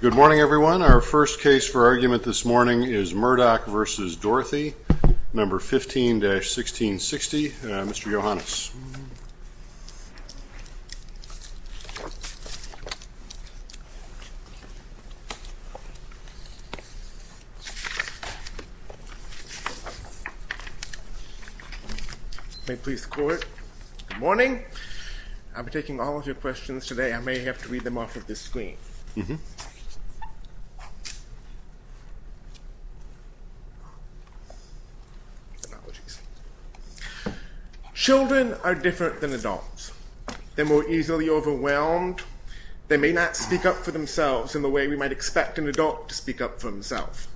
Good morning everyone. Our first case for argument this morning is Murdock v. Dorothy number 15-1660. Mr. Yohannes. May please court. Good morning. I'm taking all of your questions today. I may have to start with the first one. The facts are different than adults. They're more easily overwhelmed. They may not speak up for themselves in the way we might expect an adult to speak up for himself.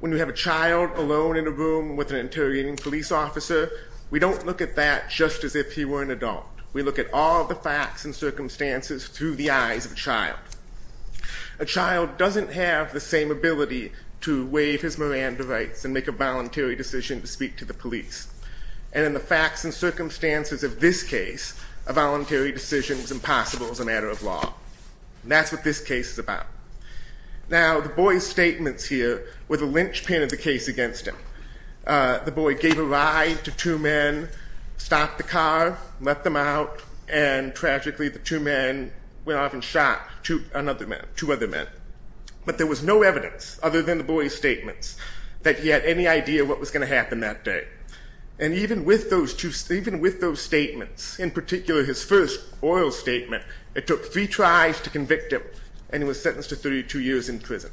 When you have a child alone in a room with an interrogating police officer, we don't look at that just as if he were an adult. We look at all the facts and circumstances through the eyes of a child. A child doesn't have the same ability to wave his Miranda And in the facts and circumstances of this case, a voluntary decision is impossible as a matter of law. That's what this case is about. Now the boy's statements here were the linchpin of the case against him. The boy gave a ride to two men, stopped the car, let them out, and tragically the two men went off and shot two other men. But there was no evidence, other than the boy's statements, that he had any idea what was going to happen that day. And even with those statements, in particular his first oral statement, it took three tries to convict him, and he was sentenced to 32 years in prison.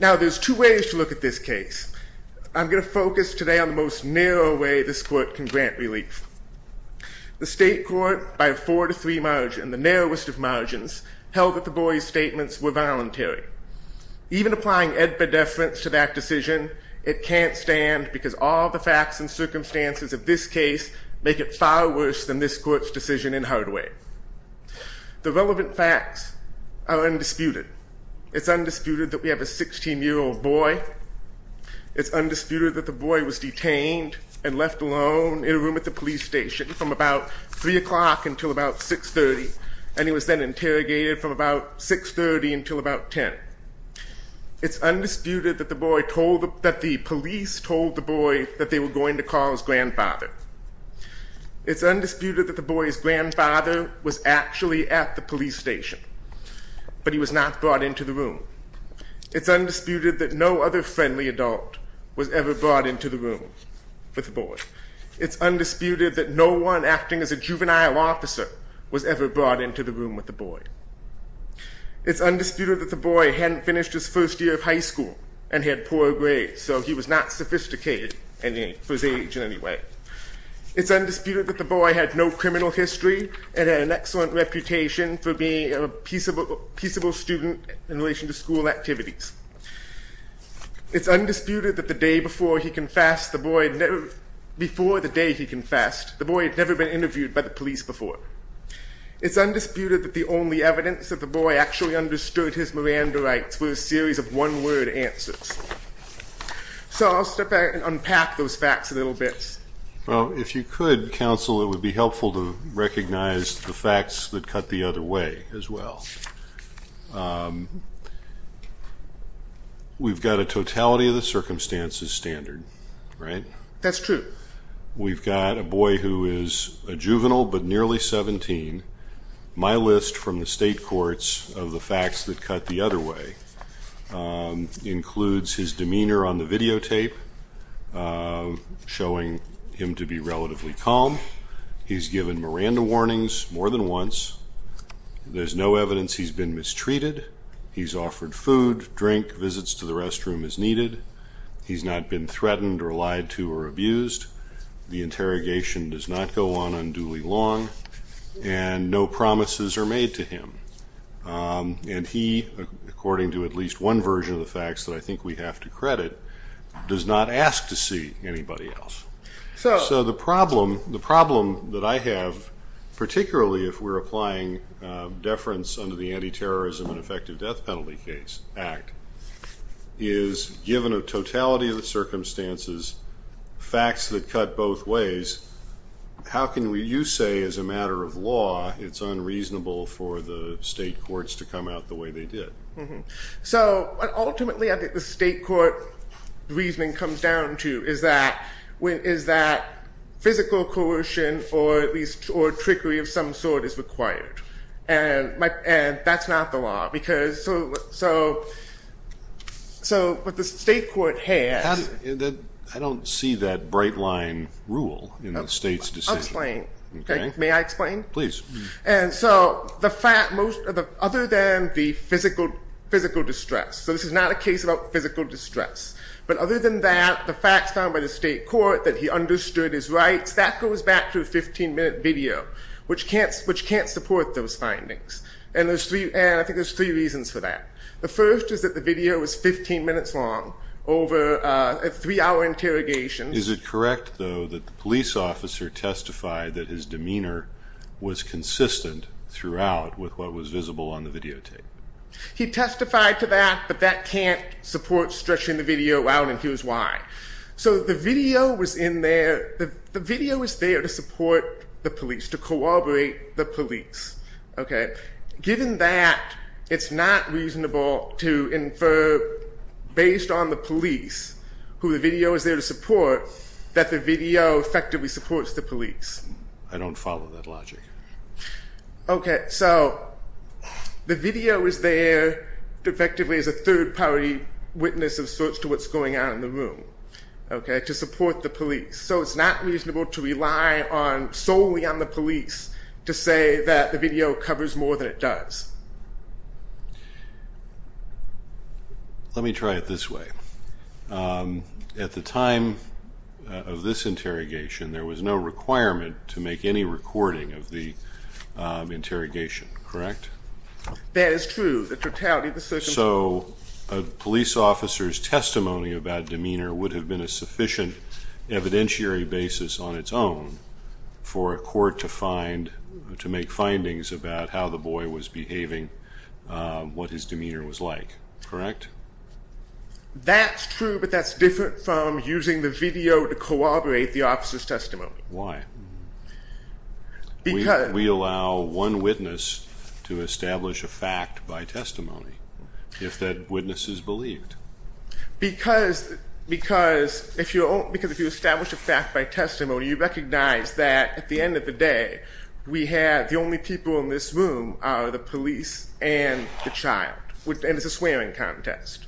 Now there's two ways to look at this case. I'm going to focus today on the most narrow way this court can grant relief. The state court, by a four to three margin, the narrowest of margins, held that the boy's statements were voluntary. Even applying edpedeference to that decision, it can't stand because all the facts and circumstances of this case make it far worse than this court's decision in Hardaway. The relevant facts are undisputed. It's undisputed that we have a 16-year-old boy. It's undisputed that the boy was detained and left alone in a room at the police station from about 3 o'clock until about 6.30, and he was then that the police told the boy that they were going to call his grandfather. It's undisputed that the boy's grandfather was actually at the police station, but he was not brought into the room. It's undisputed that no other friendly adult was ever brought into the room with the boy. It's undisputed that no one acting as a juvenile officer was ever brought into the room with the boy. It's undisputed that the boy hadn't finished his first year of high school and had poor grades, so he was not sophisticated for his age in any way. It's undisputed that the boy had no criminal history and had an excellent reputation for being a peaceable student in relation to school activities. It's undisputed that the day before he confessed, the boy had never, before the day he confessed, the boy had never been interviewed by the police before. It's undisputed that the only evidence that the boy actually understood his Miranda rights were a series of one-word answers. So I'll step back and unpack those facts a little bit. Well, if you could, counsel, it would be helpful to recognize the facts that cut the other way as well. We've got a totality of the circumstances standard, right? That's true. We've got a boy who is a juvenile but nearly 17. My list from the state courts of the facts that cut the other way includes his demeanor on the videotape showing him to be relatively calm. He's given Miranda warnings more than once. There's no evidence he's been mistreated. He's offered food, drink, visits to the restroom as needed. He's not been threatened or lied to or abused. The interrogation does not go on unduly long, and no promises are made to him. And he, according to at least one version of the facts that I think we have to credit, does not ask to see anybody else. So the problem that I have, particularly if we're applying deference under the Anti-Terrorism and Effective Death Penalty Act, is given a totality of the circumstances, facts that cut both ways, how can you say as a matter of law it's unreasonable for the state courts to come out the way they did? So ultimately I think the state court reasoning comes down to is that physical coercion or trickery of some sort is required. And that's not the law. So what the state court has... I don't see that bright line rule in the state's decision. I'll explain. May I explain? Please. And so, other than the physical distress, so this is not a case about physical distress, but other than that, the facts found by the state court that he understood his rights, that goes back to a 15-minute video, which can't support those findings. And I think there's three reasons for that. The first is that the video is 15 minutes long, over a three-hour interrogation. Is it correct, though, that the police officer testified that his demeanor was consistent throughout with what was visible on the videotape? He testified to that, but that can't support stretching the video out, and here's why. So the video was in there... the video was there to support the police, to corroborate the police. Given that, it's not reasonable to infer, based on the police, who the video is there to support, that the video effectively supports the police. I don't follow that logic. Okay, so the video is there effectively as a third-party witness of sorts to what's going on in the room, to support the police. So it's not reasonable to rely solely on the police to say that the video covers more than it does. Let me try it this way. At the time of this interrogation, there was no requirement to make any recording of the interrogation, correct? That is true. The totality of the circumstances... So a police officer's testimony about demeanor would have been a sufficient evidentiary basis on its own for a court to find... to make findings about how the boy was behaving, what his demeanor was like, correct? That's true, but that's different from using the video to corroborate the officer's testimony. Why? Because... We allow one witness to establish a fact by testimony, if that witness is believed. Because if you establish a fact by testimony, you recognize that at the end of the day, we have the only people in this room are the police and the child, and it's a swearing contest.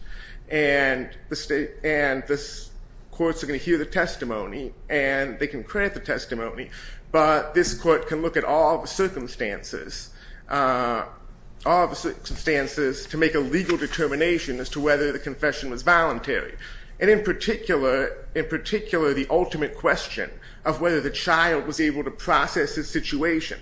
And the courts are going to hear the testimony, and they can credit the testimony, but this court can look at all the circumstances to make a legal determination as to whether the confession was voluntary. And in particular, the ultimate question of whether the child was able to process his situation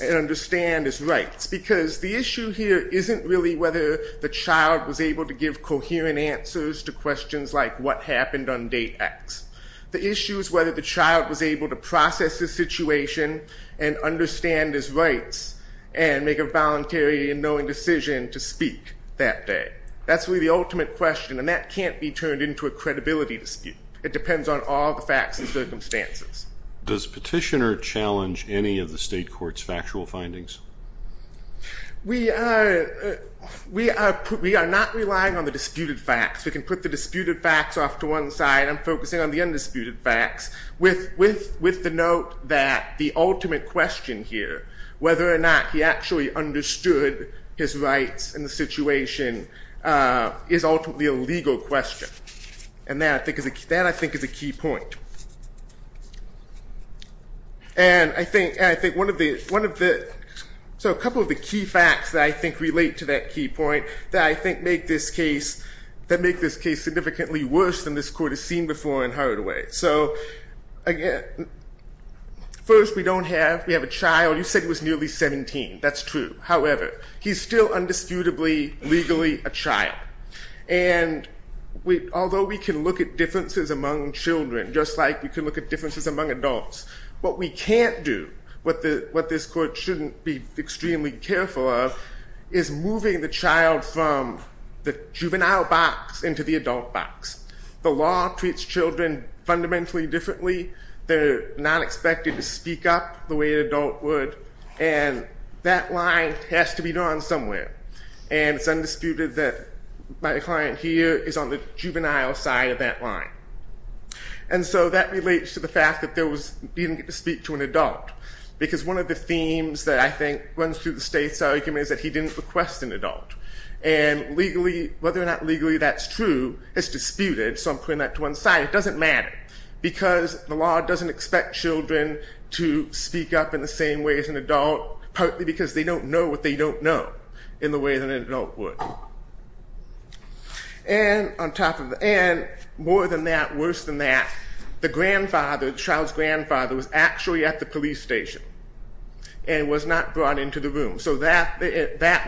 and understand his rights. Because the issue here isn't really whether the child was able to give coherent answers to questions like what happened on date X. The issue is whether the child was able to process his situation and understand his rights and make a voluntary and knowing decision to speak that day. That's really the ultimate question, and that can't be turned into a credibility dispute. It depends on all the facts and circumstances. Does Petitioner challenge any of the state court's factual findings? We are not relying on the disputed facts. We can put the disputed facts off to one side. I'm focusing on the undisputed facts with the note that the ultimate question here, whether or not he actually understood his rights in the situation, is ultimately a legal question. And that, I think, is a key point. And I think one of the key facts that I think relate to that key point, that I think make this case significantly worse than this court has seen before in Hardaway. So first, we don't have a child. You said he was nearly 17. That's true. However, he's still undisputably legally a child. And although we can look at differences among children just like we can look at differences among adults, what we can't do, what this court shouldn't be extremely careful of, is moving the child from the juvenile box into the adult box. The law treats children fundamentally differently. They're not expected to speak up the way an adult would. And that line has to be drawn somewhere. And it's undisputed that my client here is on the juvenile side of that line. And so that relates to the fact that he didn't get to speak to an adult. Because one of the themes that I think runs through the state's argument is that he didn't request an adult. And legally, whether or not legally that's true, it's disputed. So I'm putting that to one side. It doesn't matter because the law doesn't expect children to speak up in the same way as an adult, partly because they don't know what they don't know in the way that an adult would. And on top of that, more than that, worse than that, the grandfather, the child's grandfather, was actually at the police station and was not brought into the room. So that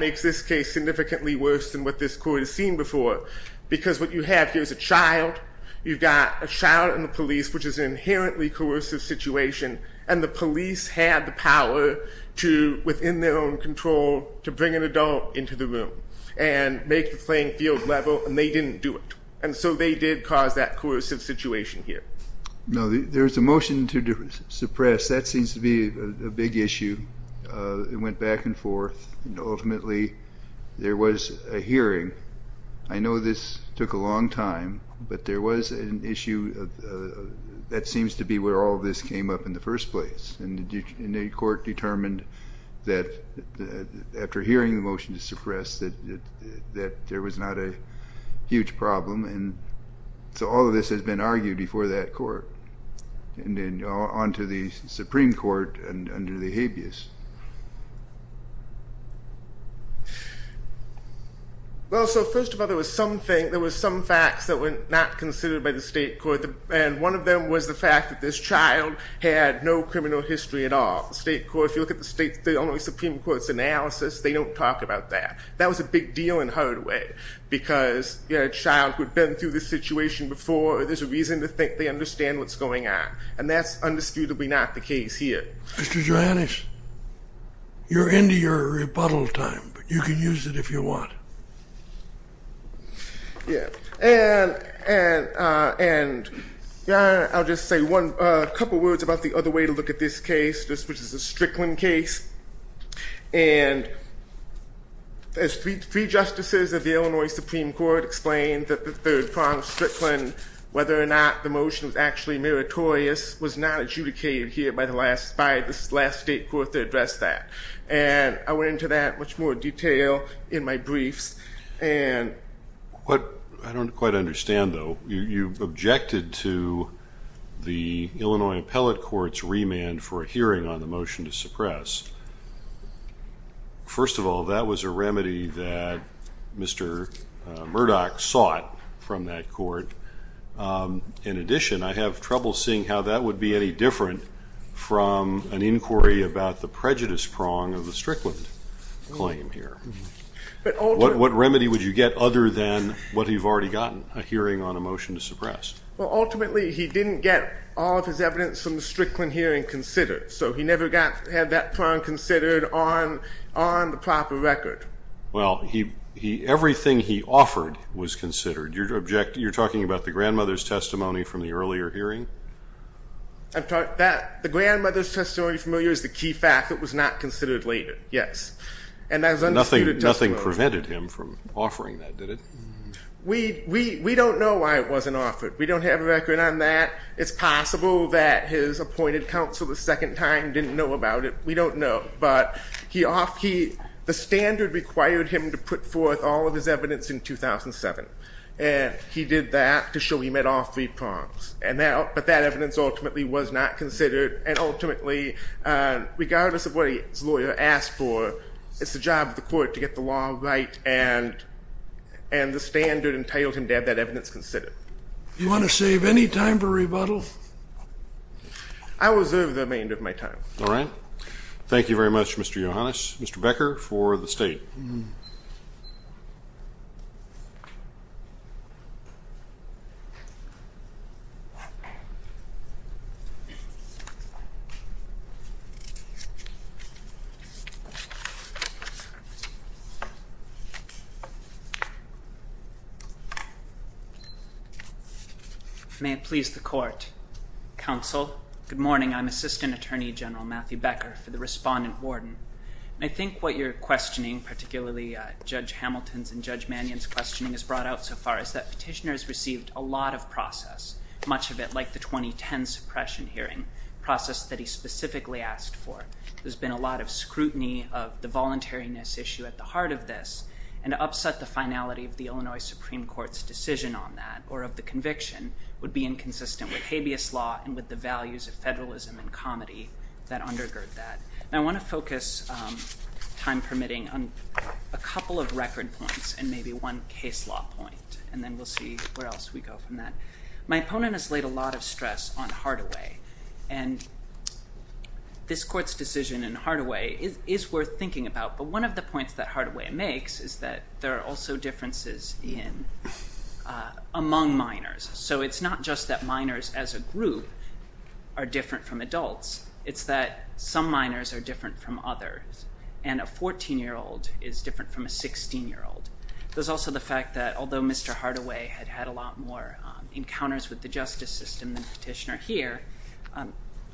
makes this case significantly worse than what this court has seen before. Because what you have here is a child. You've got a child in the police, which is an inherently coercive situation. And the police had the power to, within their own control, to bring an adult into the room and make the playing field level, and they didn't do it. And so they did cause that coercive situation here. No, there's a motion to suppress. That seems to be a big issue. It went back and forth, and ultimately there was a hearing. I know this took a long time, but there was an issue. That seems to be where all this came up in the first place. And the court determined that after hearing the motion to suppress that there was not a huge problem. And so all of this has been argued before that court. And then on to the Supreme Court under the habeas. Well, so first of all, there was some facts that were not considered by the state court, and one of them was the fact that this child had no criminal history at all. The state court, if you look at the only Supreme Court's analysis, they don't talk about that. That was a big deal in a hard way because a child who had been through this situation before, there's a reason to think they understand what's going on. And that's undisputably not the case here. Mr. Johannes, you're into your rebuttal time, but you can use it if you want. Yeah. And I'll just say a couple words about the other way to look at this case, which is the Strickland case. And as three justices of the Illinois Supreme Court explained, that the third prong of Strickland, whether or not the motion was actually meritorious, was not adjudicated here by the last state court to address that. And I went into that in much more detail in my briefs. I don't quite understand, though. You objected to the Illinois Appellate Court's remand for a hearing on the motion to suppress. First of all, that was a remedy that Mr. Murdoch sought from that court. In addition, I have trouble seeing how that would be any different from an inquiry about the prejudice prong of the Strickland claim here. What remedy would you get other than what you've already gotten, a hearing on a motion to suppress? Well, ultimately, he didn't get all of his evidence from the Strickland hearing considered, so he never had that prong considered on the proper record. Well, everything he offered was considered. You're talking about the grandmother's testimony from the earlier hearing? The grandmother's testimony from earlier is the key fact. It was not considered later, yes. Nothing prevented him from offering that, did it? We don't know why it wasn't offered. We don't have a record on that. It's possible that his appointed counsel the second time didn't know about it. We don't know. But the standard required him to put forth all of his evidence in 2007, and he did that to show he met all three prongs. But that evidence ultimately was not considered, and ultimately, regardless of what his lawyer asked for, it's the job of the court to get the law right and the standard entitled him to have that evidence considered. Do you want to save any time for rebuttal? I will reserve the remainder of my time. All right. Thank you very much, Mr. Yohannes. Mr. Becker for the State. May it please the Court. Counsel, good morning. I'm Assistant Attorney General Matthew Becker for the Respondent-Warden. I think what you're questioning, particularly Judge Hamilton's and Judge Mannion's questioning, has brought out so far is that petitioners received a lot of process, much of it like the 2010 suppression hearing process that he specifically asked for. There's been a lot of scrutiny of the voluntariness issue at the heart of this, and to upset the finality of the Illinois Supreme Court's decision on that or of the conviction would be inconsistent with habeas law and with the values of federalism and comity that undergird that. And I want to focus, time permitting, on a couple of record points and maybe one case law point, and then we'll see where else we go from that. My opponent has laid a lot of stress on Hardaway, and this Court's decision in Hardaway is worth thinking about, but one of the points that Hardaway makes is that there are also differences among minors. So it's not just that minors as a group are different from adults. It's that some minors are different from others, and a 14-year-old is different from a 16-year-old. There's also the fact that although Mr. Hardaway had had a lot more encounters with the justice system than Petitioner here,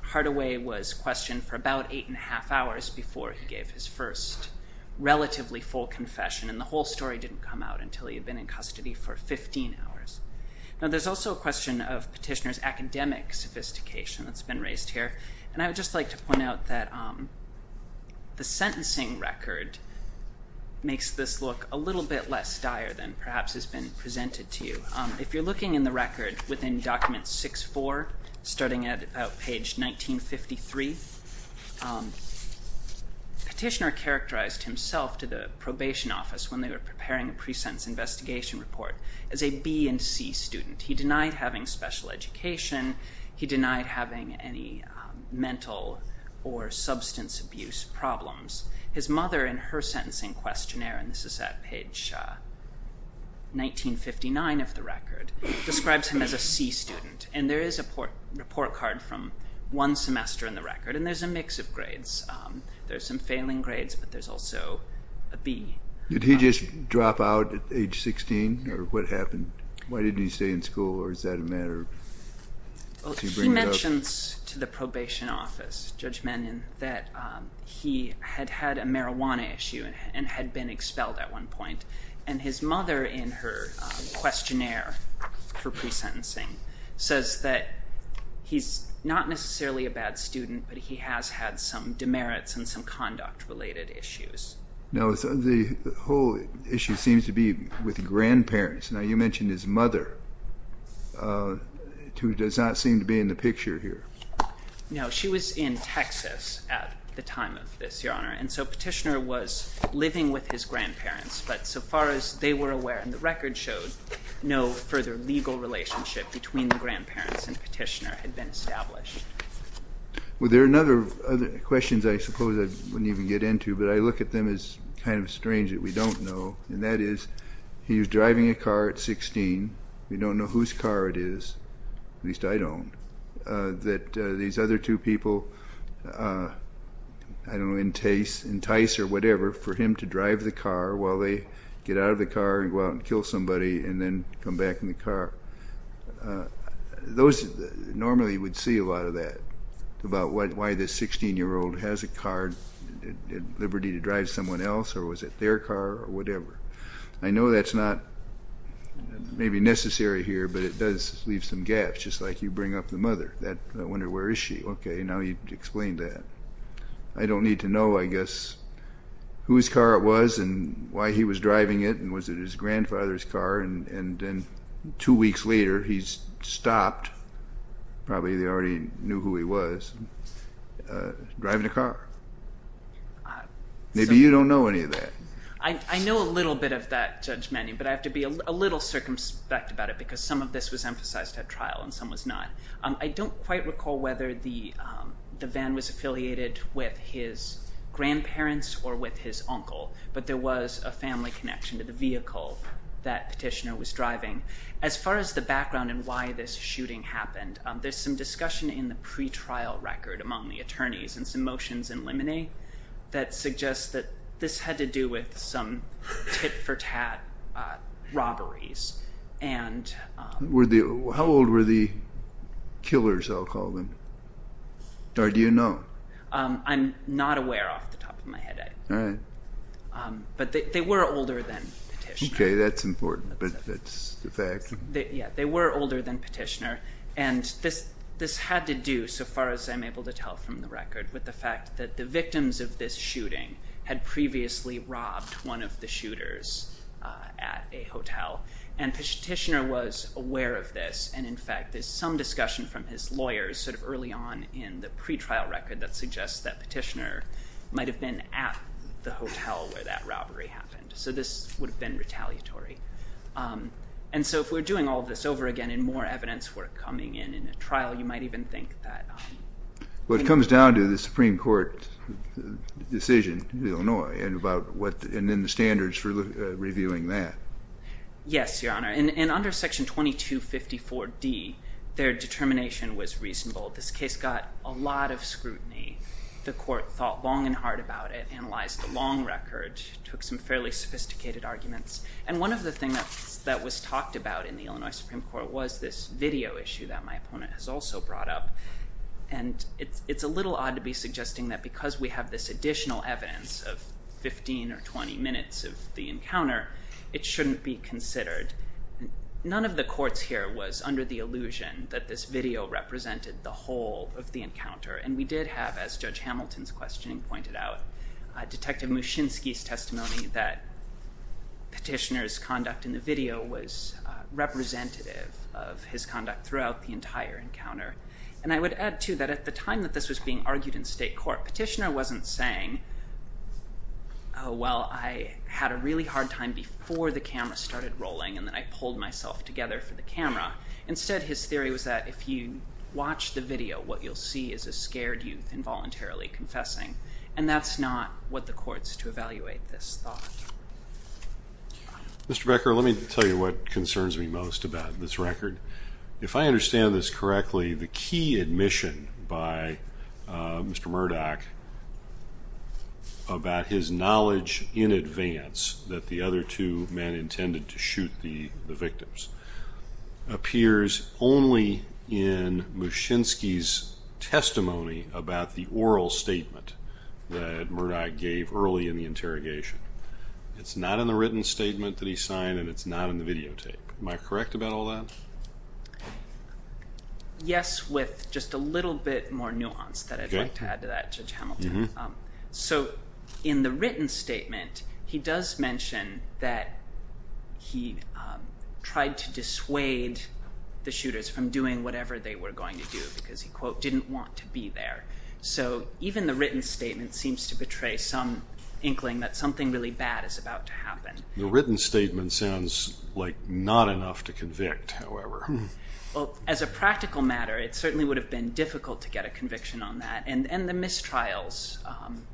Hardaway was questioned for about eight and a half hours before he gave his first relatively full confession, and the whole story didn't come out until he had been in custody for 15 hours. Now there's also a question of Petitioner's academic sophistication that's been raised here, and I would just like to point out that the sentencing record makes this look a little bit less dire than perhaps has been presented to you. If you're looking in the record within Document 6-4, starting at about page 1953, Petitioner characterized himself to the probation office when they were preparing a pre-sentence investigation report as a B and C student. He denied having special education. He denied having any mental or substance abuse problems. His mother, in her sentencing questionnaire, and this is at page 1959 of the record, describes him as a C student, and there is a report card from one semester in the record, and there's a mix of grades. There's some failing grades, but there's also a B. Did he just drop out at age 16, or what happened? Why didn't he stay in school, or is that a matter of does he bring it up? He mentions to the probation office, Judge Mannion, that he had had a marijuana issue and had been expelled at one point, and his mother, in her questionnaire for pre-sentencing, says that he's not necessarily a bad student, but he has had some demerits and some conduct-related issues. Now, the whole issue seems to be with grandparents. Now, you mentioned his mother, who does not seem to be in the picture here. No, she was in Texas at the time of this, Your Honor, and so Petitioner was living with his grandparents, but so far as they were aware, and the record showed, no further legal relationship between the grandparents and Petitioner had been established. Well, there are other questions I suppose I wouldn't even get into, but I look at them as kind of strange that we don't know, and that is he was driving a car at 16. We don't know whose car it is, at least I don't, that these other two people, I don't know, entice or whatever for him to drive the car while they get out of the car and go out and kill somebody and then come back in the car. Those normally would see a lot of that about why this 16-year-old has a car. Did he have the liberty to drive someone else or was it their car or whatever? I know that's not maybe necessary here, but it does leave some gaps, just like you bring up the mother. I wonder, where is she? Okay, now you've explained that. I don't need to know, I guess, whose car it was and why he was driving it and was it his grandfather's car, and then two weeks later he's stopped, probably they already knew who he was, driving a car. Maybe you don't know any of that. I know a little bit of that judgment, but I have to be a little circumspect about it because some of this was emphasized at trial and some was not. I don't quite recall whether the van was affiliated with his grandparents or with his uncle, but there was a family connection to the vehicle that Petitioner was driving. As far as the background and why this shooting happened, there's some discussion in the pretrial record among the attorneys and some motions in limine that suggest that this had to do with some tit-for-tat robberies. How old were the killers, I'll call them, or do you know? I'm not aware off the top of my head. All right. But they were older than Petitioner. Okay, that's important, but that's a fact. Yeah, they were older than Petitioner, and this had to do, so far as I'm able to tell from the record, with the fact that the victims of this shooting had previously robbed one of the shooters at a hotel, and Petitioner was aware of this, and in fact there's some discussion from his lawyers sort of early on in the pretrial record that suggests that Petitioner might have been at the hotel where that robbery happened. So this would have been retaliatory. And so if we're doing all of this over again and more evidence were coming in in a trial, you might even think that. Well, it comes down to the Supreme Court decision in Illinois and then the standards for reviewing that. Yes, Your Honor, and under Section 2254D, their determination was reasonable. This case got a lot of scrutiny. The court thought long and hard about it, analyzed the long record, took some fairly sophisticated arguments, and one of the things that was talked about in the Illinois Supreme Court was this video issue that my opponent has also brought up, and it's a little odd to be suggesting that because we have this additional evidence of 15 or 20 minutes of the encounter, it shouldn't be considered. None of the courts here was under the illusion that this video represented the whole of the encounter, and we did have, as Judge Hamilton's questioning pointed out, Detective Muszynski's testimony that Petitioner's conduct in the video was representative of his conduct throughout the entire encounter. And I would add, too, that at the time that this was being argued in state court, Petitioner wasn't saying, oh, well, I had a really hard time before the camera started rolling and then I pulled myself together for the camera. Instead, his theory was that if you watch the video, what you'll see is a scared youth involuntarily confessing, and that's not what the court's to evaluate this thought. Mr. Becker, let me tell you what concerns me most about this record. If I understand this correctly, the key admission by Mr. Murdoch about his knowledge in advance that the other two men intended to shoot the victims appears only in Muszynski's testimony about the oral statement that Murdoch gave early in the interrogation. It's not in the written statement that he signed, and it's not in the videotape. Am I correct about all that? Yes, with just a little bit more nuance that I'd like to add to that, Judge Hamilton. In the written statement, he does mention that he tried to dissuade the shooters from doing whatever they were going to do because he, quote, didn't want to be there. Even the written statement seems to portray some inkling that something really bad is about to happen. The written statement sounds like not enough to convict, however. As a practical matter, it certainly would have been difficult to get a conviction on that, and the mistrials,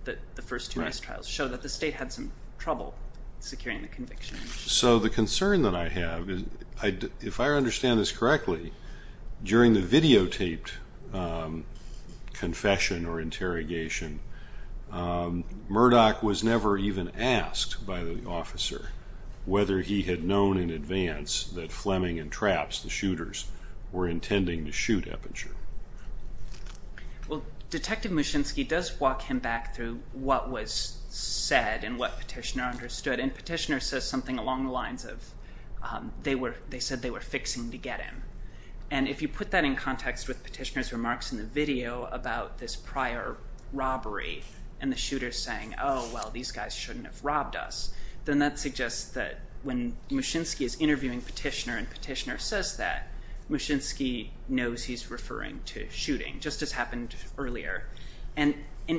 the first two mistrials, show that the state had some trouble securing the conviction. So the concern that I have is if I understand this correctly, during the videotaped confession or interrogation, Murdoch was never even asked by the officer whether he had known in advance that Fleming and Trapps, the shooters, were intending to shoot Eppenshuler. Well, Detective Muszynski does walk him back through what was said and what Petitioner understood, and Petitioner says something along the lines of they said they were fixing to get him. And if you put that in context with Petitioner's remarks in the video about this prior robbery and the shooters saying, oh, well, these guys shouldn't have robbed us, then that suggests that when Muszynski is interviewing Petitioner and Petitioner says that, Muszynski knows he's referring to shooting, just as happened earlier. And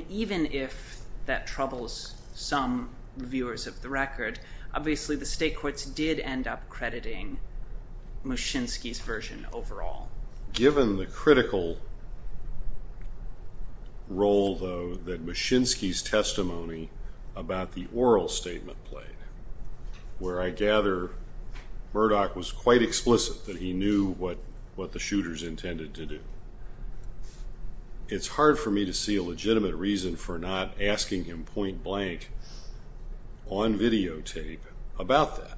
even if that troubles some viewers of the record, obviously the state courts did end up crediting Muszynski's version overall. Given the critical role, though, that Muszynski's testimony about the oral statement played, where I gather Murdoch was quite explicit that he knew what the shooters intended to do, it's hard for me to see a legitimate reason for not asking him point blank on videotape about that.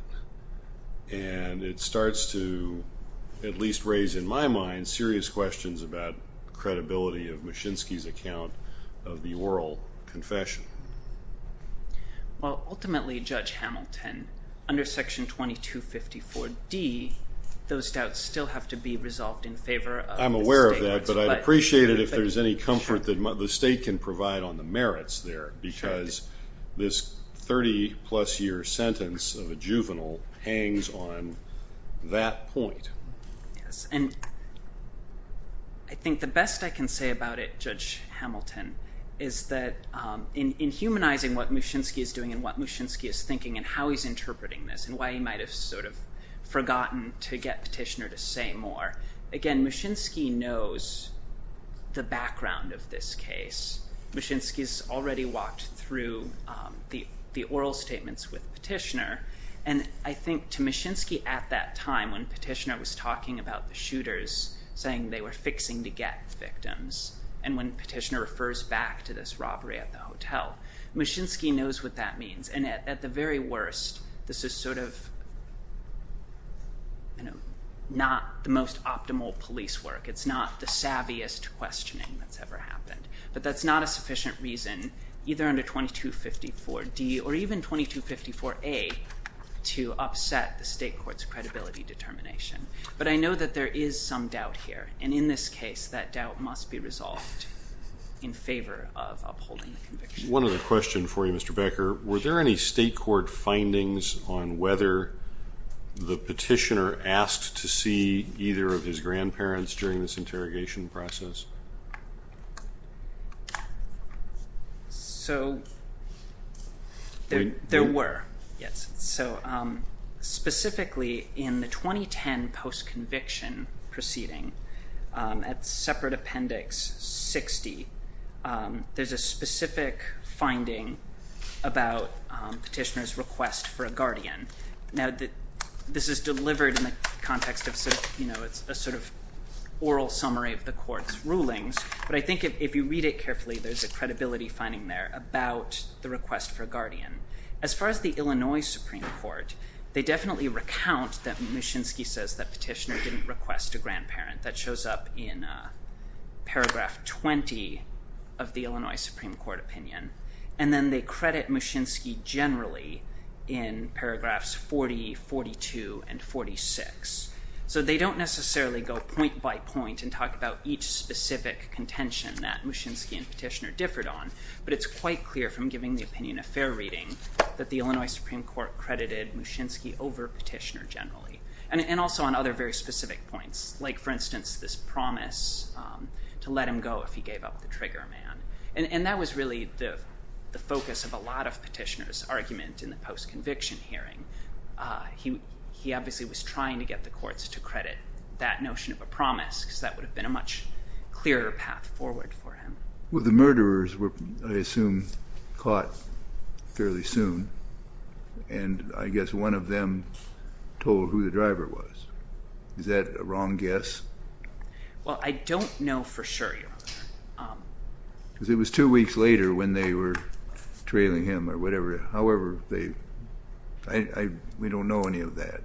And it starts to at least raise in my mind serious questions about credibility of Muszynski's account of the oral confession. Well, ultimately, Judge Hamilton, under Section 2254D, those doubts still have to be resolved in favor of the state courts. I'm aware of that, but I'd appreciate it if there's any comfort that the state can provide on the merits there, because this 30-plus year sentence of a juvenile hangs on that point. And I think the best I can say about it, Judge Hamilton, is that in humanizing what Muszynski is doing and what Muszynski is thinking and how he's interpreting this and why he might have sort of forgotten to get Petitioner to say more, again, Muszynski knows the background of this case. Muszynski's already walked through the oral statements with Petitioner. And I think to Muszynski at that time when Petitioner was talking about the shooters saying they were fixing to get victims and when Petitioner refers back to this robbery at the hotel, Muszynski knows what that means. And at the very worst, this is sort of not the most optimal police work. It's not the savviest questioning that's ever happened. But that's not a sufficient reason either under 2254D or even 2254A to upset the state court's credibility determination. But I know that there is some doubt here, and in this case that doubt must be resolved in favor of upholding the conviction. One other question for you, Mr. Becker. Were there any state court findings on whether the Petitioner asked to see either of his grandparents during this interrogation process? So there were, yes. There was a statement about Petitioner's request for a guardian. Now, this is delivered in the context of a sort of oral summary of the court's rulings. But I think if you read it carefully, there's a credibility finding there about the request for a guardian. As far as the Illinois Supreme Court, they definitely recount that Muszynski says that Petitioner didn't request a grandparent. That shows up in paragraph 20 of the Illinois Supreme Court opinion. And then they credit Muszynski generally in paragraphs 40, 42, and 46. So they don't necessarily go point by point and talk about each specific contention that Muszynski and Petitioner differed on. But it's quite clear from giving the opinion affair reading that the Illinois Supreme Court credited Muszynski over Petitioner generally. And also on other very specific points. Like, for instance, this promise to let him go if he gave up the trigger man. And that was really the focus of a lot of Petitioner's argument in the post-conviction hearing. He obviously was trying to get the courts to credit that notion of a promise because that would have been a much clearer path forward for him. Well, the murderers were, I assume, caught fairly soon. And I guess one of them told who the driver was. Is that a wrong guess? Because it was two weeks later when they were trailing him or whatever. However, we don't know any of that.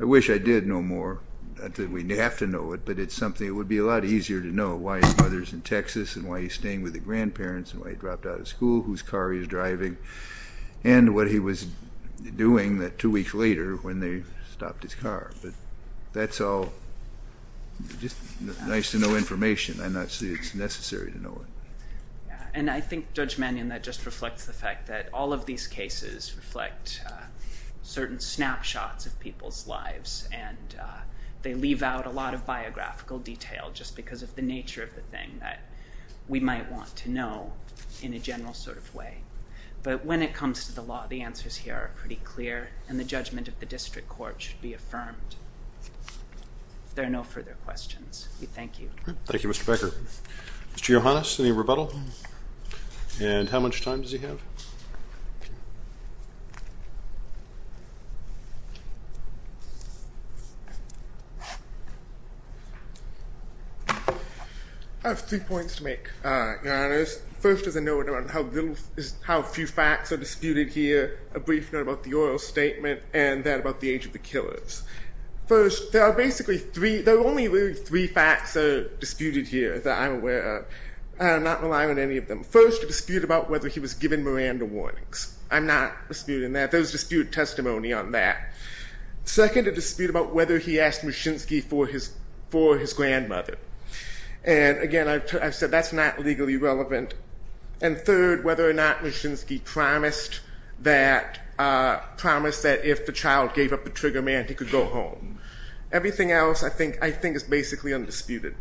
I wish I did know more. Not that we have to know it, but it's something. It would be a lot easier to know why his mother's in Texas and why he's staying with the grandparents and why he dropped out of school, whose car he was driving, and what he was doing two weeks later when they stopped his car. But that's all just nice to know information. I'm not saying it's necessary to know it. And I think, Judge Mannion, that just reflects the fact that all of these cases reflect certain snapshots of people's lives, and they leave out a lot of biographical detail just because of the nature of the thing that we might want to know in a general sort of way. But when it comes to the law, the answers here are pretty clear, and the judgment of the district court should be affirmed. If there are no further questions, we thank you. Thank you, Mr. Becker. Mr. Yohannes, any rebuttal? And how much time does he have? I have three points to make, Your Honors. First is a note on how few facts are disputed here, a brief note about the oral statement, and then about the age of the killers. First, there are only really three facts that are disputed here that I'm aware of. I'm not relying on any of them. First, a dispute about whether he was given Miranda warnings. I'm not disputing that. There was disputed testimony on that. Second, a dispute about whether he asked Muschinski for his grandmother. And again, I've said that's not legally relevant. And third, whether or not Muschinski promised that if the child gave up the trigger man, he could go home. Everything else I think is basically undisputed.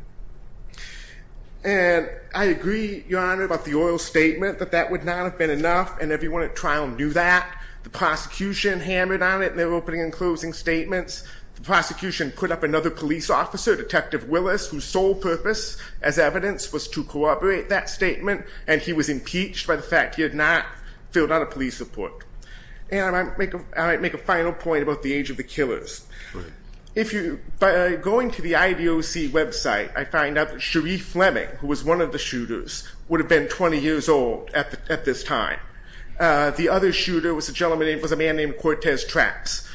And I agree, Your Honor, about the oral statement, that that would not have been enough, and everyone at trial knew that. The prosecution hammered on it in their opening and closing statements. The prosecution put up another police officer, Detective Willis, whose sole purpose as evidence was to corroborate that statement, and he was impeached by the fact he had not filled out a police report. And I might make a final point about the age of the killers. By going to the IDOC website, I find out that Cherie Fleming, who was one of the shooters, would have been 20 years old at this time. The other shooter was a gentleman named, was a man named Cortez Trax.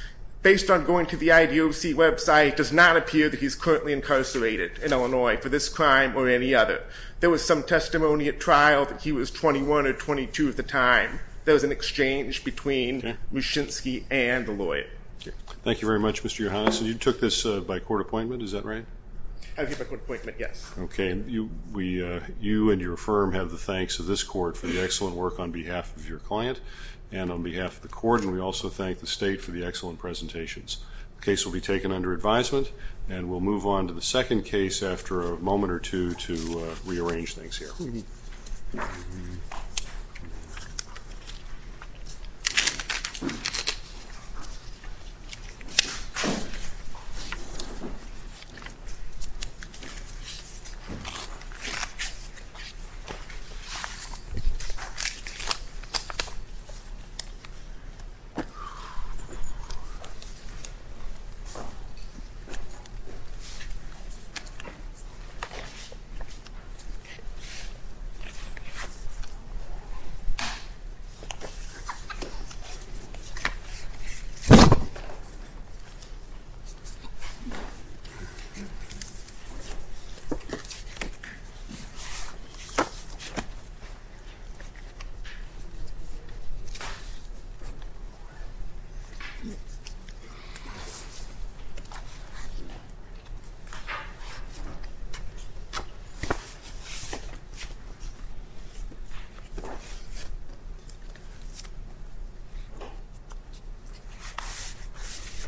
Based on going to the IDOC website, it does not appear that he's currently incarcerated in Illinois for this crime or any other. There was some testimony at trial that he was 21 or 22 at the time. There was an exchange between Muschinski and the lawyer. Thank you very much, Mr. Yohannes. And you took this by court appointment, is that right? I did by court appointment, yes. Okay. You and your firm have the thanks of this court for the excellent work on behalf of your client and on behalf of the court. And we also thank the state for the excellent presentations. The case will be taken under advisement, and we'll move on to the second case after a moment or two to rearrange things here. Okay. Thank you.